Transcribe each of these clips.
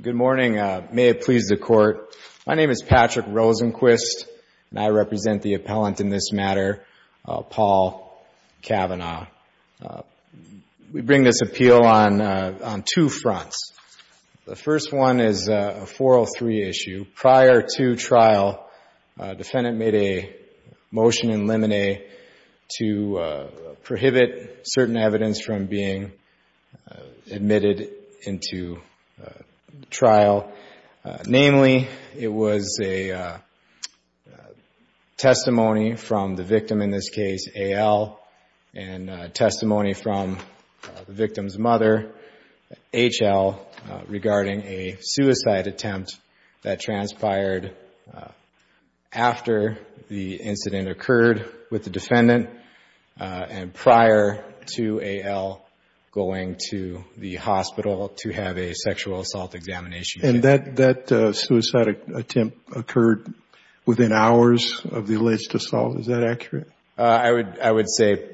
Good morning. May it please the Court. My name is Patrick Rosenquist, and I represent the appellant in this matter, Paul Cavanaugh. We bring this appeal on two fronts. The first one is a 403 issue. Prior to trial, a defendant made a motion in limine to prohibit certain evidence from being admitted into trial. Namely, it was a testimony from the victim, in this case, a suicide attempt that transpired after the incident occurred with the defendant, and prior to A.L. going to the hospital to have a sexual assault examination. And that suicide attempt occurred within hours of the alleged assault? Is that accurate? I would say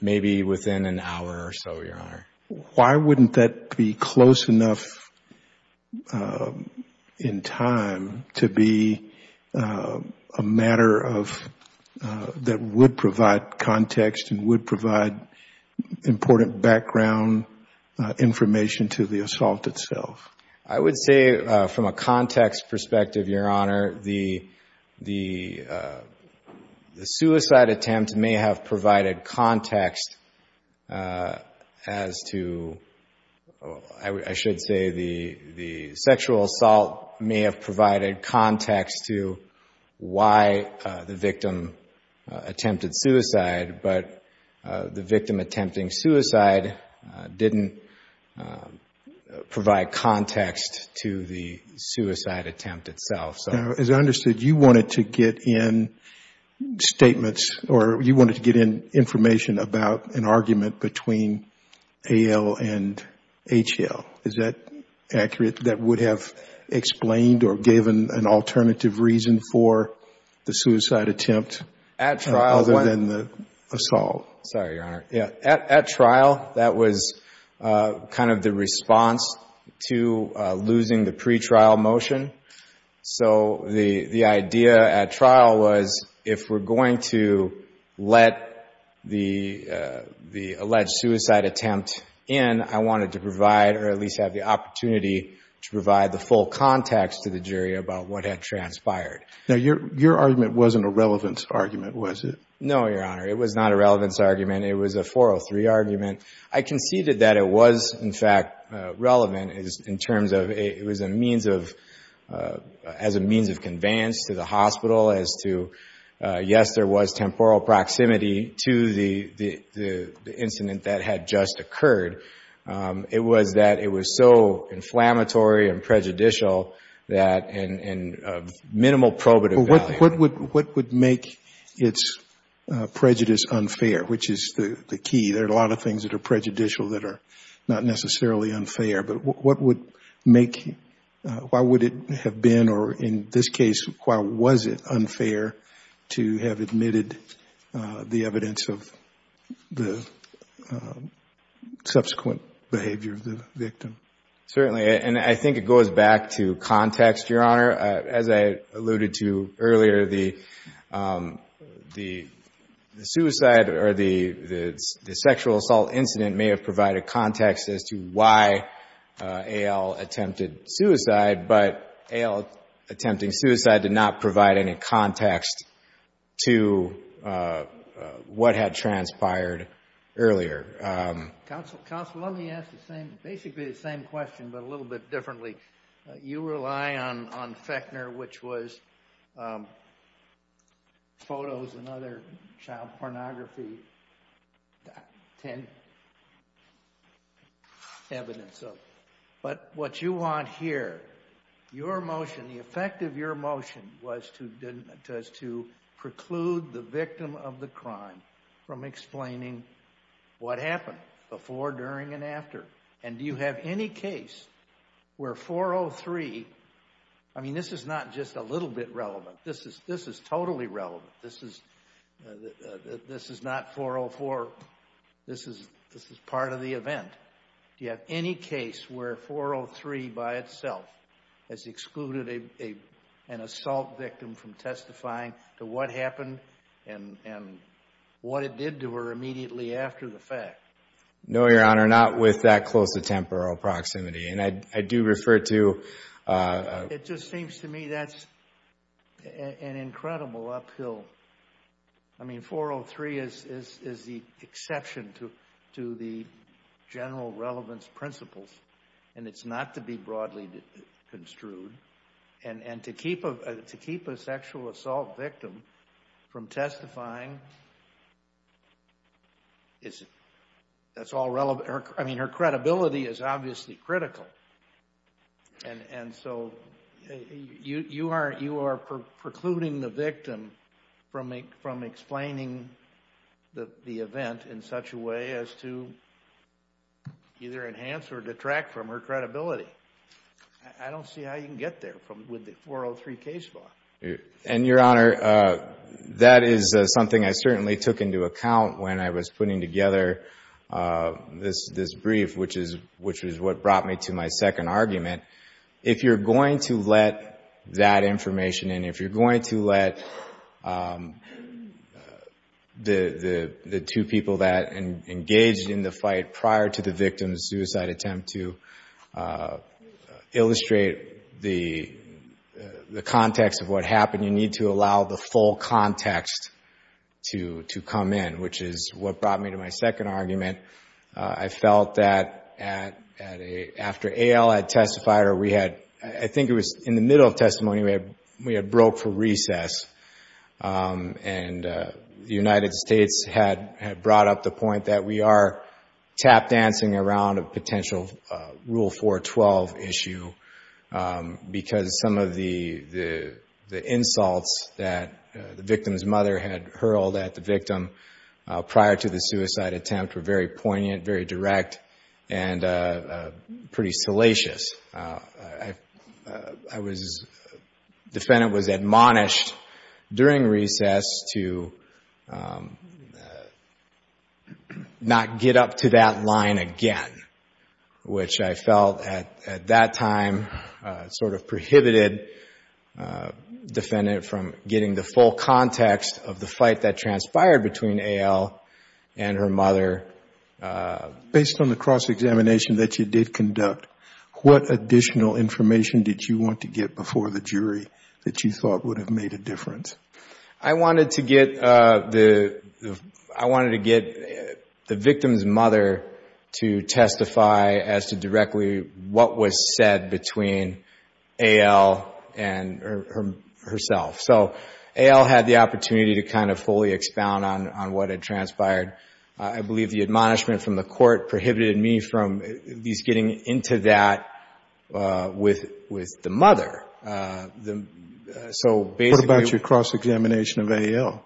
maybe within an hour or so, Your Honor. Why wouldn't that be close enough in time to be a matter that would provide context and would provide important background information to the assault itself? I would say from a context perspective, Your Honor, the suicide attempt may have provided context as to, I should say, the sexual assault may have provided context to why the victim attempted suicide, but the victim attempting suicide didn't provide context to the suicide attempt itself. As I understood, you wanted to get in statements or you wanted to get in information about an argument between A.L. and H.L. Is that accurate? That would have explained or given an alternative reason for the suicide attempt other than the assault? Sorry, Your Honor. At trial, that was kind of the response to losing the pretrial motion. So the idea at trial was if we're going to let the alleged suicide attempt in, I wanted to provide or at least have the opportunity to provide the full context to the jury about what had transpired. Now, your argument wasn't a relevance argument, was it? No, Your Honor. It was not a relevance argument. It was a 403 argument. I conceded that it was, in fact, relevant as a means of conveyance to the hospital as to, yes, there was temporal proximity to the incident that had just occurred. It was that it was so inflammatory and prejudicial that in minimal probative value. What would make its prejudice unfair, which is the key? There are a lot of things that are prejudicial that are not necessarily unfair, but what would make, why would it have been or in this case, why was it unfair to have admitted the evidence of the subsequent behavior of the victim? Certainly, and I think it goes back to context, Your Honor. As I alluded to earlier, the suicide or the sexual assault incident may have provided context as to why A.L. attempted suicide, but A.L. attempting suicide did not provide any context to what had transpired earlier. Counsel, let me ask basically the same question, but a little bit differently. You rely on Fechner, which was photos and other child pornography evidence, but what you want here, your motion, the effect of your motion was to preclude the victim of the crime from explaining what happened before, during, and after, and do you have any case where 403, I mean this is not just a little bit relevant, this is totally relevant, this is not 404, this is part of the event. Do you have any case where 403 by itself has excluded an assault victim from testifying to what happened and what it did to her immediately after the fact? No, Your Honor, not with that close of temporal proximity, and I do refer to... It just seems to me that's an incredible uphill, I mean 403 is the exception to the general relevance principles, and it's not to be broadly construed, and to keep a sexual assault victim from testifying, that's all relevant, I mean her credibility is obviously critical, and so you are precluding the victim from explaining the event in such a way as to either enhance or detract from her credibility. I don't see how you can get there with the 403 case law. And Your Honor, that is something I certainly took into account when I was putting together this brief, which is what brought me to my second argument. If you're going to let that information, and if you're going to let the two people that engaged in the fight prior to the victim's suicide attempt to illustrate the context of what happened, you need to allow the full context to come in, which is what brought me to my second argument. I felt that after A.L. had testified, or we had, I think it was in the middle of testimony, we had broke for recess, and the United States had brought up the point that we are tap-dancing around a potential Rule 412 issue because some of the insults that the victim's mother had hurled at the victim prior to the suicide attempt were very poignant, very direct, and pretty salacious. The defendant was admonished during recess to not get up to that line again, which I felt at that time sort of prohibited the defendant from getting the full context of the fight that transpired between A.L. and her mother. Based on the cross-examination that you did conduct, what additional information did you want to get before the jury that you thought would have made a difference? I wanted to get the victim's mother to testify as to directly what was said between A.L. and herself. So, A.L. had the opportunity to kind of fully expound on what had transpired. I believe the admonishment from the court prohibited me from at least getting into that with the mother. What about your cross-examination of A.L.?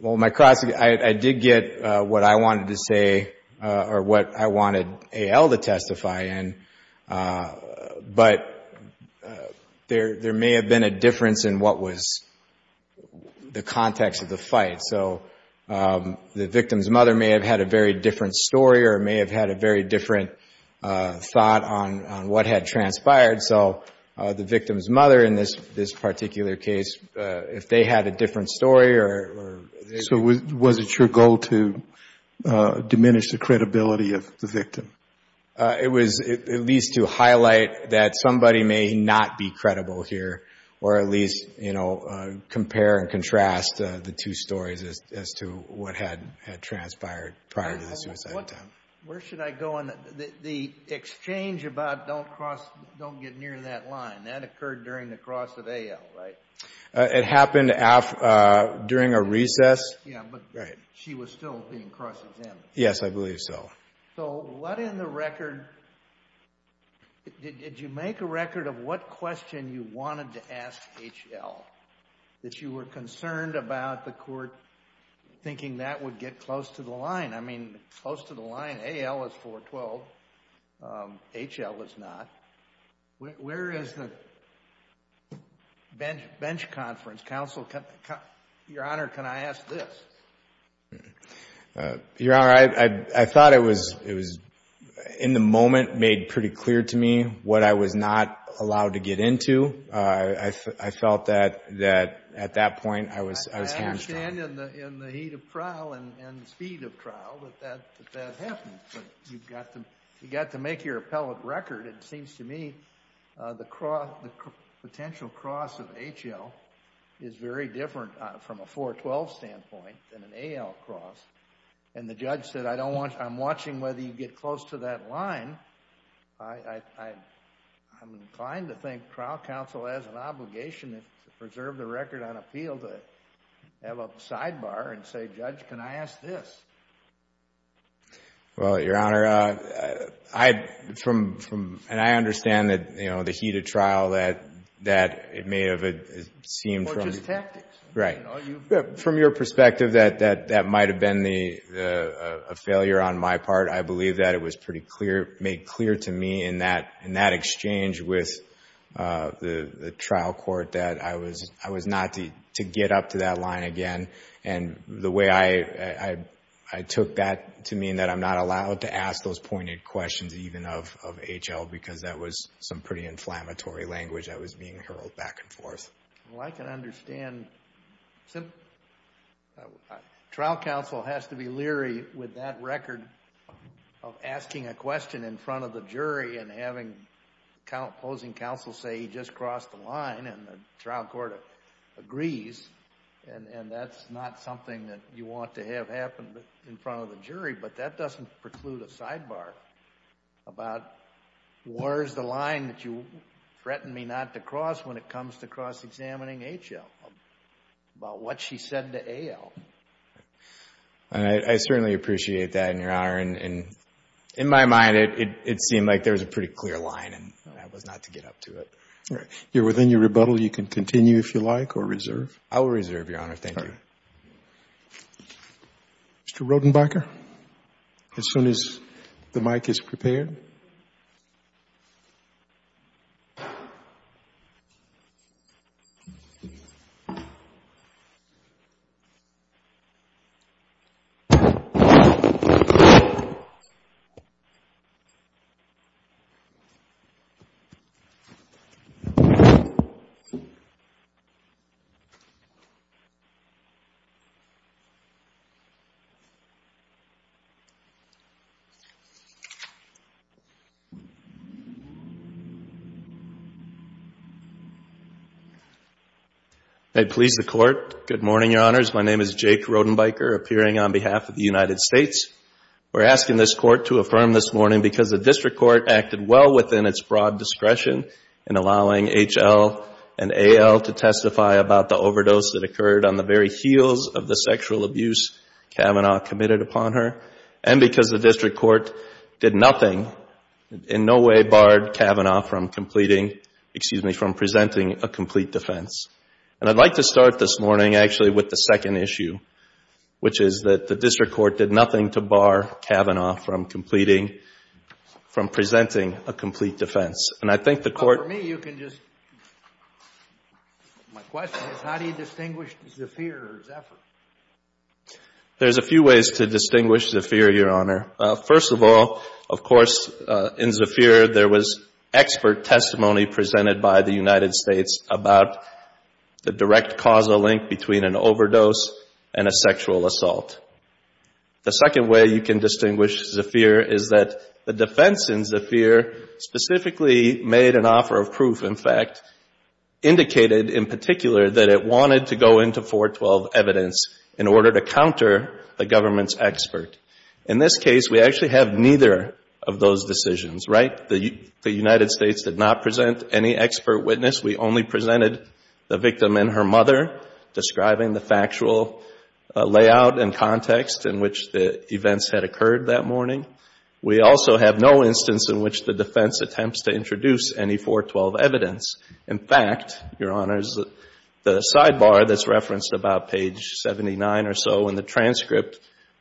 Well, I did get what I wanted to say or what I wanted A.L. to testify in, but there may have been a difference in what was the context of the fight. So, the victim's mother may have had a very different story or may have had a very different thought on what had transpired. So, the victim's mother in this particular case, if they had a different story or... So, was it your goal to diminish the credibility of the victim? It was at least to highlight that somebody may not be credible here or at least, you know, compare and contrast the two stories as to what had transpired prior to the suicide attempt. Where should I go on the exchange about don't cross... don't get near that line? That occurred during the cross of A.L., right? It happened during a recess. Yeah, but she was still being cross-examined. Yes, I believe so. So, what in the record... did you make a record of what question you wanted to ask H.L. that you were concerned about the court thinking that would get close to the line? I mean, close to the line. A.L. is 412. H.L. is not. Where is the bench conference? Counsel, Your Honor, can I ask this? Your Honor, I thought it was, in the moment, made pretty clear to me what I was not allowed to get into. I felt that at that point, I was... that happened. But you've got to make your appellate record. It seems to me the potential cross of H.L. is very different from a 412 standpoint than an A.L. cross. And the judge said, I don't want... I'm watching whether you get close to that line. I'm inclined to think trial counsel has an obligation to preserve the record on appeal to have a sidebar and say, Judge, can I ask this? Well, Your Honor, I understand the heat of trial that it may have seemed... Or just tactics. Right. From your perspective, that might have been a failure on my part. I believe that it was pretty clear... made clear to me in that exchange with the trial court that I was not to get up to that line again. And the way I took that to mean that I'm not allowed to ask those pointed questions even of H.L. because that was some pretty inflammatory language that was being hurled back and forth. Well, I can understand... Trial counsel has to be leery with that record of asking a question in front of the jury and having opposing counsel say he just crossed the line and the trial court agrees. And that's not something that you want to have happen in front of the jury. But that doesn't preclude a sidebar about where's the line that you threatened me not to cross when it comes to cross-examining H.L. about what she said to A.L. And I certainly appreciate that, Your Honor. And in my mind, it seemed like there was a pretty clear line and I was not to get up to it. You're within your rebuttal. You can continue if you like or reserve. I will reserve, Your Honor. Thank you. Mr. Rodenbacher, as soon as the mic is prepared. MR. RODENBACHER, AS SOON AS THE MIC IS PREPARED APPEARING ON BEHALF OF THE UNITED STATES, WE'RE ASKING THIS COURT TO AFFIRM THIS MORNING BECAUSE THE DISTRICT COURT ACTED WELL WITHIN ITS BROAD DISCRETION IN ALLOWING H.L. AND A.L. TO TESTIFY ABOUT THE OVERDOSE THAT OCCURRED ON THE VERY HEELS OF THE SEXUAL ABUSE KAVANAUGH COMMITTED UPON HER AND BECAUSE THE DISTRICT COURT DID NOTHING IN NO WAY BARRED KAVANAUGH FROM COMPLETING, EXCUSE ME, FROM PRESENTING A COMPLETE DEFENSE. AND I'D LIKE TO START THIS MORNING ACTUALLY WITH THE SECOND ISSUE, WHICH IS THAT THE DISTRICT COURT DID NOTHING TO BAR KAVANAUGH FROM COMPLETING, FROM PRESENTING A COMPLETE DEFENSE. AND I THINK THE COURT MR. RODENBACHER, AS SOON AS THE MIC IS PREPARED APPEARING ON BEHALF OF THE UNITED STATES, THE DIRECT CAUSAL LINK BETWEEN AN OVERDOSE AND A SEXUAL ASSAULT. THE SECOND WAY YOU CAN DISTINGUISH ZAFIR IS THAT THE DEFENSE IN ZAFIR SPECIFICALLY MADE AN OFFER OF PROOF, IN FACT, INDICATED IN PARTICULAR THAT IT WANTED TO GO INTO 412 EVIDENCE IN ORDER TO COUNTER THE GOVERNMENT'S EXPERT. IN THIS CASE, WE ACTUALLY HAVE NEITHER OF THOSE DECISIONS, RIGHT? THE UNITED STATES DID NOT PRESENT ANY EXPERT WITNESS. WE ONLY PRESENTED THE VICTIM AND HER MOTHER, DESCRIBING THE FACTUAL LAYOUT AND CONTEXT IN WHICH THE EVENTS HAD OCCURRED THAT MORNING. WE ALSO HAVE NO INSTANCE IN WHICH THE DEFENSE ATTEMPTS TO INTRODUCE ANY 412 EVIDENCE. IN FACT, YOUR HONOR, THE SIDEBAR THAT'S REFERENCED ABOUT PAGE 79 OR SO IN THE TRANSCRIPT,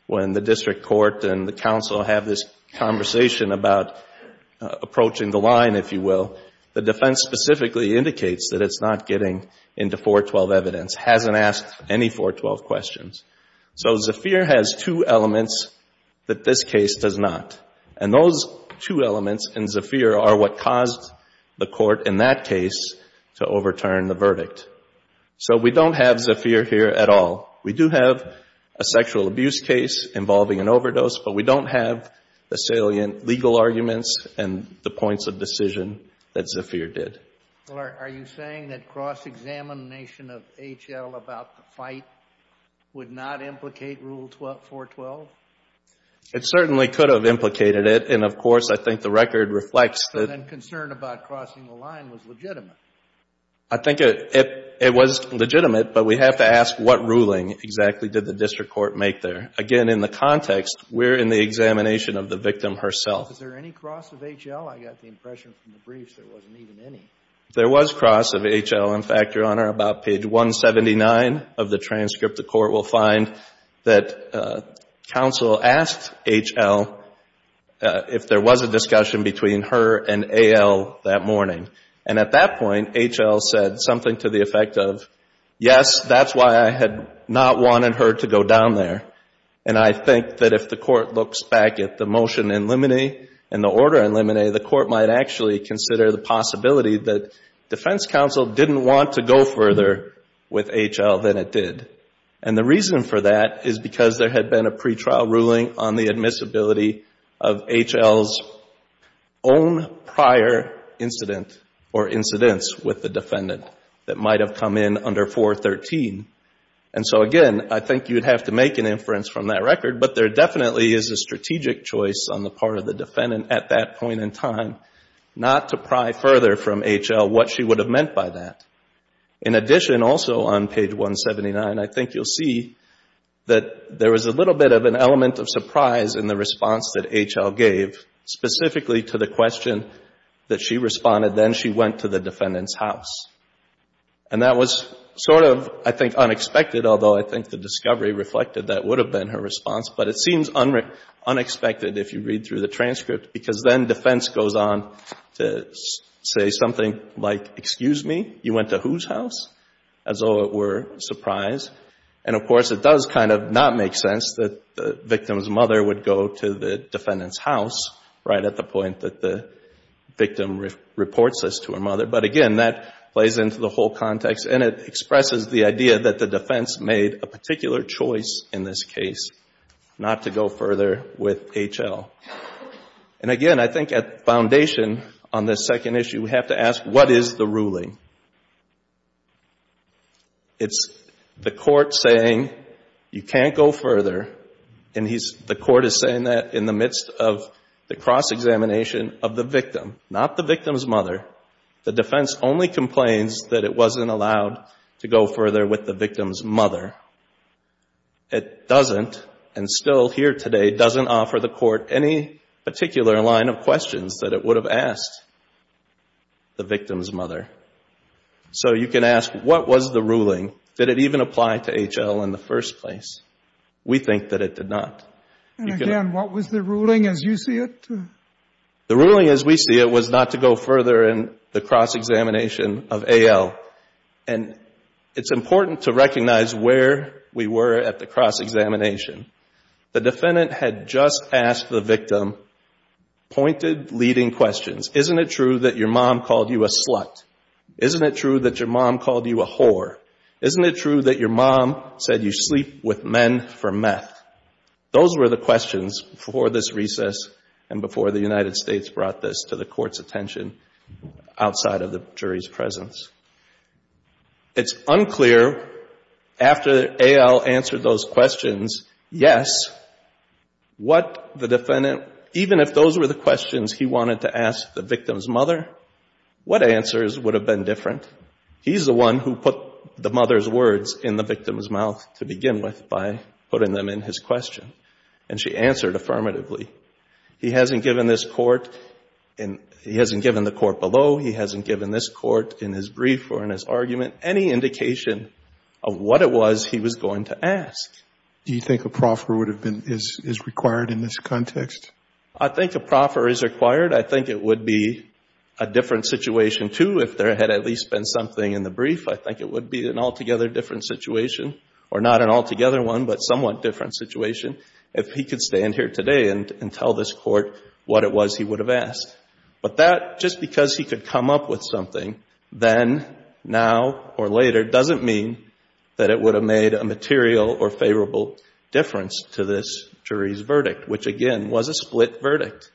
WHEN THE DISTRICT COURT AND THE COUNCIL HAVE THIS CONVERSATION ABOUT APPROACHING THE LINE, IF YOU WILL, THE DEFENSE SPECIFICALLY INDICATES THAT IT'S NOT GETTING INTO 412 EVIDENCE, HASN'T ASKED ANY 412 QUESTIONS. SO ZAFIR HAS TWO ELEMENTS THAT THIS CASE DOES NOT. AND THOSE TWO ELEMENTS IN ZAFIR ARE WHAT CAUSED THE COURT IN THAT CASE TO OVERTURN THE VERDICT. SO WE DON'T HAVE ZAFIR HERE AT ALL. WE DO HAVE A SEXUAL ABUSE CASE INVOLVING AN OVERDOSE, BUT WE DON'T HAVE THE SALIENT LEGAL ARGUMENTS AND THE POINTS OF DECISION THAT ZAFIR DID. ARE YOU SAYING THAT CROSS-EXAMINATION OF H.L. ABOUT THE FIGHT WOULD NOT IMPLICATE RULE 412? IT CERTAINLY COULD HAVE IMPLICATED IT. AND, OF COURSE, I THINK THE RECORD REFLECTS THAT CONCERN ABOUT CROSSING THE LINE WAS LEGITIMATE. I THINK IT WAS LEGITIMATE, BUT WE HAVE TO ASK WHAT RULING EXACTLY DID THE DISTRICT COURT MAKE THERE. AGAIN, IN THE CONTEXT, WE'RE IN THE EXAMINATION OF THE VICTIM HERSELF. IS THERE ANY CROSS OF H.L.? I GOT THE IMPRESSION FROM THE BRIEFS THERE WASN'T EVEN ANY. THERE WAS CROSS OF H.L. IN FACT, YOUR HONOR, ABOUT PAGE 179 OF THE TRANSCRIPT. THE COURT WILL FIND THAT COUNSEL ASKED H.L. IF THERE WAS A DISCUSSION BETWEEN HER AND A.L. THAT MORNING. AND AT THAT POINT, H.L. SAID SOMETHING TO THE EFFECT OF, YES, THAT'S WHY I HAD NOT WANTED HER TO GO DOWN THERE. AND I THINK THAT IF THE COURT LOOKS BACK AT THE MOTION IN LIMINEE AND THE ORDER IN LIMINEE, THE COURT MIGHT ACTUALLY CONSIDER THE POSSIBILITY THAT DEFENSE COUNSEL DIDN'T WANT TO GO FURTHER WITH H.L. THAN IT DID. AND THE REASON FOR THAT IS BECAUSE THERE HAD BEEN A PRE-TRIAL RULING ON THE ADMISSIBILITY OF H.L.'S OWN PRIOR INCIDENT OR INCIDENTS WITH THE DEFENDANT THAT MIGHT HAVE COME IN UNDER 413. AND SO, AGAIN, I THINK YOU'D HAVE TO MAKE AN INFERENCE FROM THAT RECORD, BUT THERE DEFINITELY IS A STRATEGIC CHOICE ON THE PART OF THE DEFENDANT AT THAT POINT IN TIME NOT TO PRY FURTHER FROM H.L. WHAT SHE WOULD HAVE MEANT BY THAT. IN ADDITION, ALSO ON PAGE 179, I THINK YOU'LL SEE THAT THERE WAS A LITTLE BIT OF AN ELEMENT OF SURPRISE IN THE RESPONSE THAT H.L. GAVE SPECIFICALLY TO THE QUESTION THAT SHE RESPONDED AND THEN SHE WENT TO THE DEFENDANT'S HOUSE. AND THAT WAS SORT OF, I THINK, UNEXPECTED, ALTHOUGH I THINK THE DISCOVERY REFLECTED THAT WOULD HAVE BEEN HER RESPONSE, BUT IT SEEMS UNEXPECTED IF YOU READ THROUGH THE TRANSCRIPT, BECAUSE THEN DEFENSE GOES ON TO SAY SOMETHING LIKE, EXCUSE ME, YOU WENT TO WHOSE HOUSE? AS THOUGH IT WERE A SURPRISE. AND OF COURSE, IT DOES KIND OF NOT MAKE SENSE THAT THE VICTIM'S MOTHER WOULD GO TO THE DEFENDANT'S HOUSE RIGHT AT THE POINT THAT THE VICTIM REPORTS THIS TO HER MOTHER. BUT AGAIN, THAT PLAYS INTO THE WHOLE CONTEXT AND IT EXPRESSES THE IDEA THAT THE DEFENSE MADE A PARTICULAR CHOICE IN THIS CASE NOT TO GO FURTHER WITH H.L. AND AGAIN, I THINK AT FOUNDATION ON THIS SECOND ISSUE, WE HAVE TO ASK, WHAT IS THE RULING? It's the court saying, you can't go further, and the court is saying that in the midst of the cross-examination of the victim, not the victim's mother. The defense only complains that it wasn't allowed to go further with the victim's mother. It doesn't, and still here today, doesn't offer the court any particular line of questions that it would have asked the victim's mother. So you can ask, what was the ruling? Did it even apply to H.L. in the first place? We think that it did not. And again, what was the ruling as you see it? The ruling as we see it was not to go further in the cross-examination of A.L. And it's important to recognize where we were at the cross-examination. The defendant had just asked the victim pointed leading questions. Isn't it true that your mom called you a slut? Isn't it true that your mom called you a whore? Isn't it true that your mom said you sleep with men for meth? Those were the questions before this recess and before the United States brought this to the court's attention outside of the jury's presence. It's unclear after A.L. answered those questions, yes, what the defendant, even if those were the questions he wanted to ask the victim's mother, what answers would have been different? He's the one who put the mother's words in the victim's mouth to begin with by putting them in his question. And she answered affirmatively. He hasn't given this court, he hasn't given the court below, he hasn't given this court in his brief or in his argument any indication of what it was he was going to ask. Do you think a proffer is required in this context? I think a proffer is required. I think it would be a different situation, too, if there had at least been something in the brief. I think it would be an altogether different situation, or not an altogether one, but somewhat different situation, if he could stand here today and tell this court what it was he would have asked. But that, just because he could come up with something then, now, or later, doesn't mean that it would have made a material or favorable difference to this jury's verdict, which, again, was a split verdict.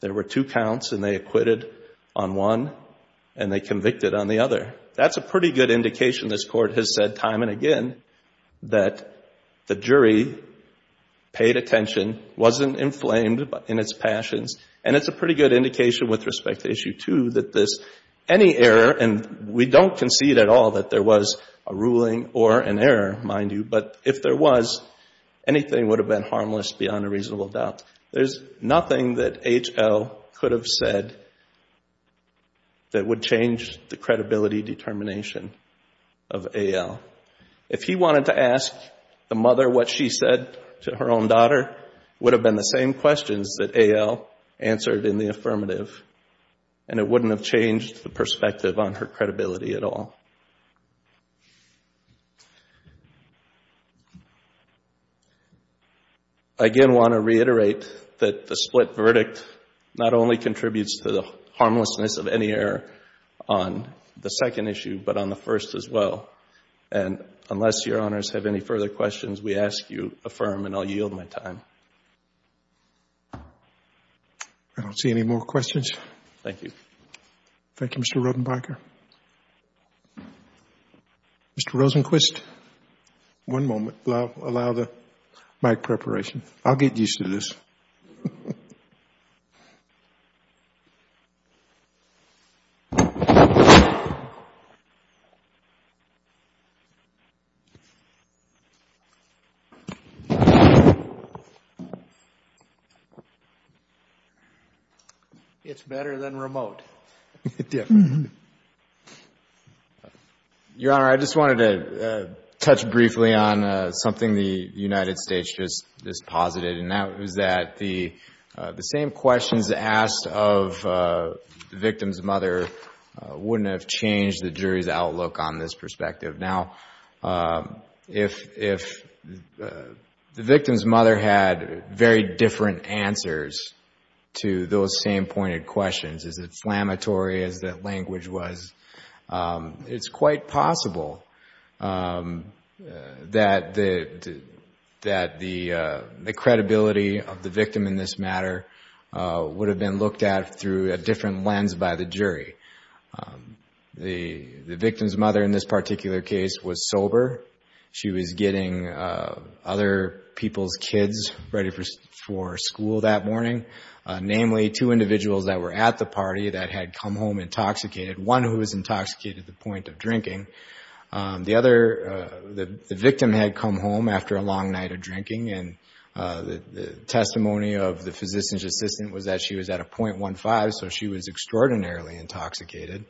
There were two counts and they acquitted on one and they convicted on the other. That's a pretty good indication, this court has said time and again, that the jury paid attention, wasn't inflamed in its passions, and it's a pretty good indication with respect to Issue 2 that this, any error, and we don't concede at all that there was a ruling or an error, mind you, but if there was, anything would have been a determination of A.L. If he wanted to ask the mother what she said to her own daughter, it would have been the same questions that A.L. answered in the affirmative, and it wouldn't have changed the perspective on her credibility at all. I, again, want to reiterate that the split verdict not only contributes to the harmlessness of any error on the second issue, but on the first as well. And unless Your Honors have any further questions, we ask you affirm, and I'll yield my time. I don't see any more questions. Thank you. Thank you, Mr. Rotenbacher. Mr. Rosenquist, one moment, allow the mic preparation. I'll get used to this. It's better than remote. Your Honor, I just wanted to touch briefly on something the United States just posited, and that was that the same questions asked of the victim's mother wouldn't have changed the jury's outlook on this perspective. Now, if the victim's mother had very different answers to those same pointed questions, is it flammatory as that language was, it's quite possible that the credibility of the victim in this matter would have been looked at through a different lens by the jury. The victim's mother in this particular case was sober. She was getting other people's kids ready for school that morning, namely two individuals that were at the party that had come home intoxicated, one who was intoxicated to the point of drinking. The victim had come home after a long night of drinking, and the testimony of the physician's assistant was that she was at a .15, so she was extraordinarily intoxicated,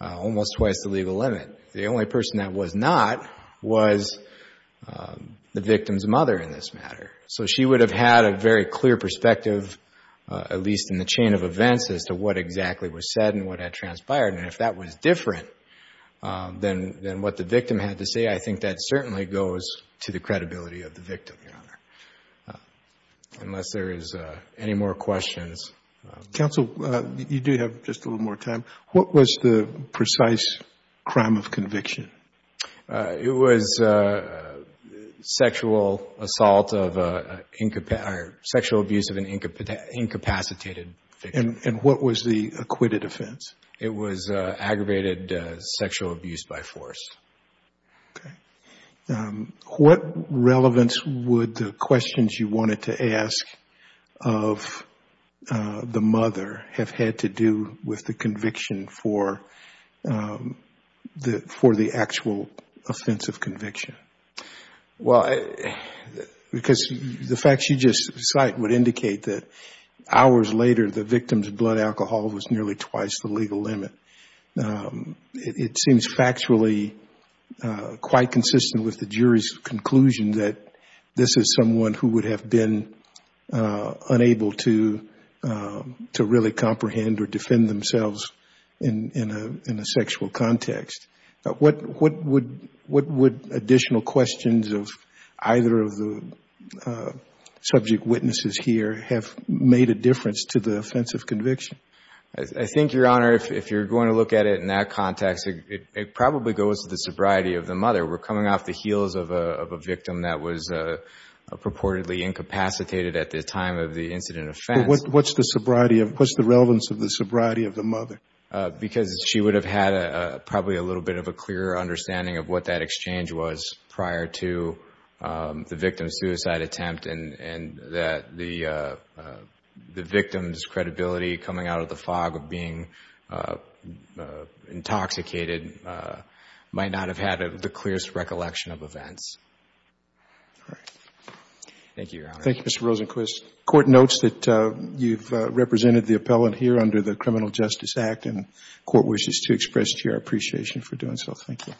almost twice the legal limit. The only person that was not was the victim's mother in this matter. So she would have had a very clear perspective, at least in the chain of events, as to what exactly was said and what had transpired. And if that was different than what the victim had to say, I think that certainly goes to the credibility of the victim, Your Honor. Unless there is any more questions. Yes. Counsel, you do have just a little more time. What was the precise crime of conviction? It was sexual assault or sexual abuse of an incapacitated victim. And what was the acquitted offense? It was aggravated sexual abuse by force. Okay. What relevance would the questions you wanted to ask of the mother have had to do with the conviction for the actual offensive conviction? Well, because the facts you just cite would indicate that hours later, the victim's blood alcohol was nearly twice the legal limit. It seems factually quite consistent with the jury's conclusion that this is someone who would have been unable to really comprehend or defend themselves in a sexual context. What would additional questions of either of the subject witnesses here have made a difference to the offensive conviction? I think, Your Honor, if you're going to look at it in that context, it probably goes to the sobriety of the mother. We're coming off the heels of a victim that was purportedly incapacitated at the time of the incident offense. But what's the sobriety of, what's the relevance of the sobriety of the mother? Because she would have had probably a little bit of a clearer understanding of what that exchange was prior to the victim's suicide attempt and that the victim's credibility coming out of the fog of being intoxicated might not have had the clearest recollection of events. All right. Thank you, Your Honor. Thank you, Mr. Rosenquist. The Court notes that you've represented the appellant here under the Criminal Justice Act and the Court wishes to express to you our appreciation for doing so. Thank you.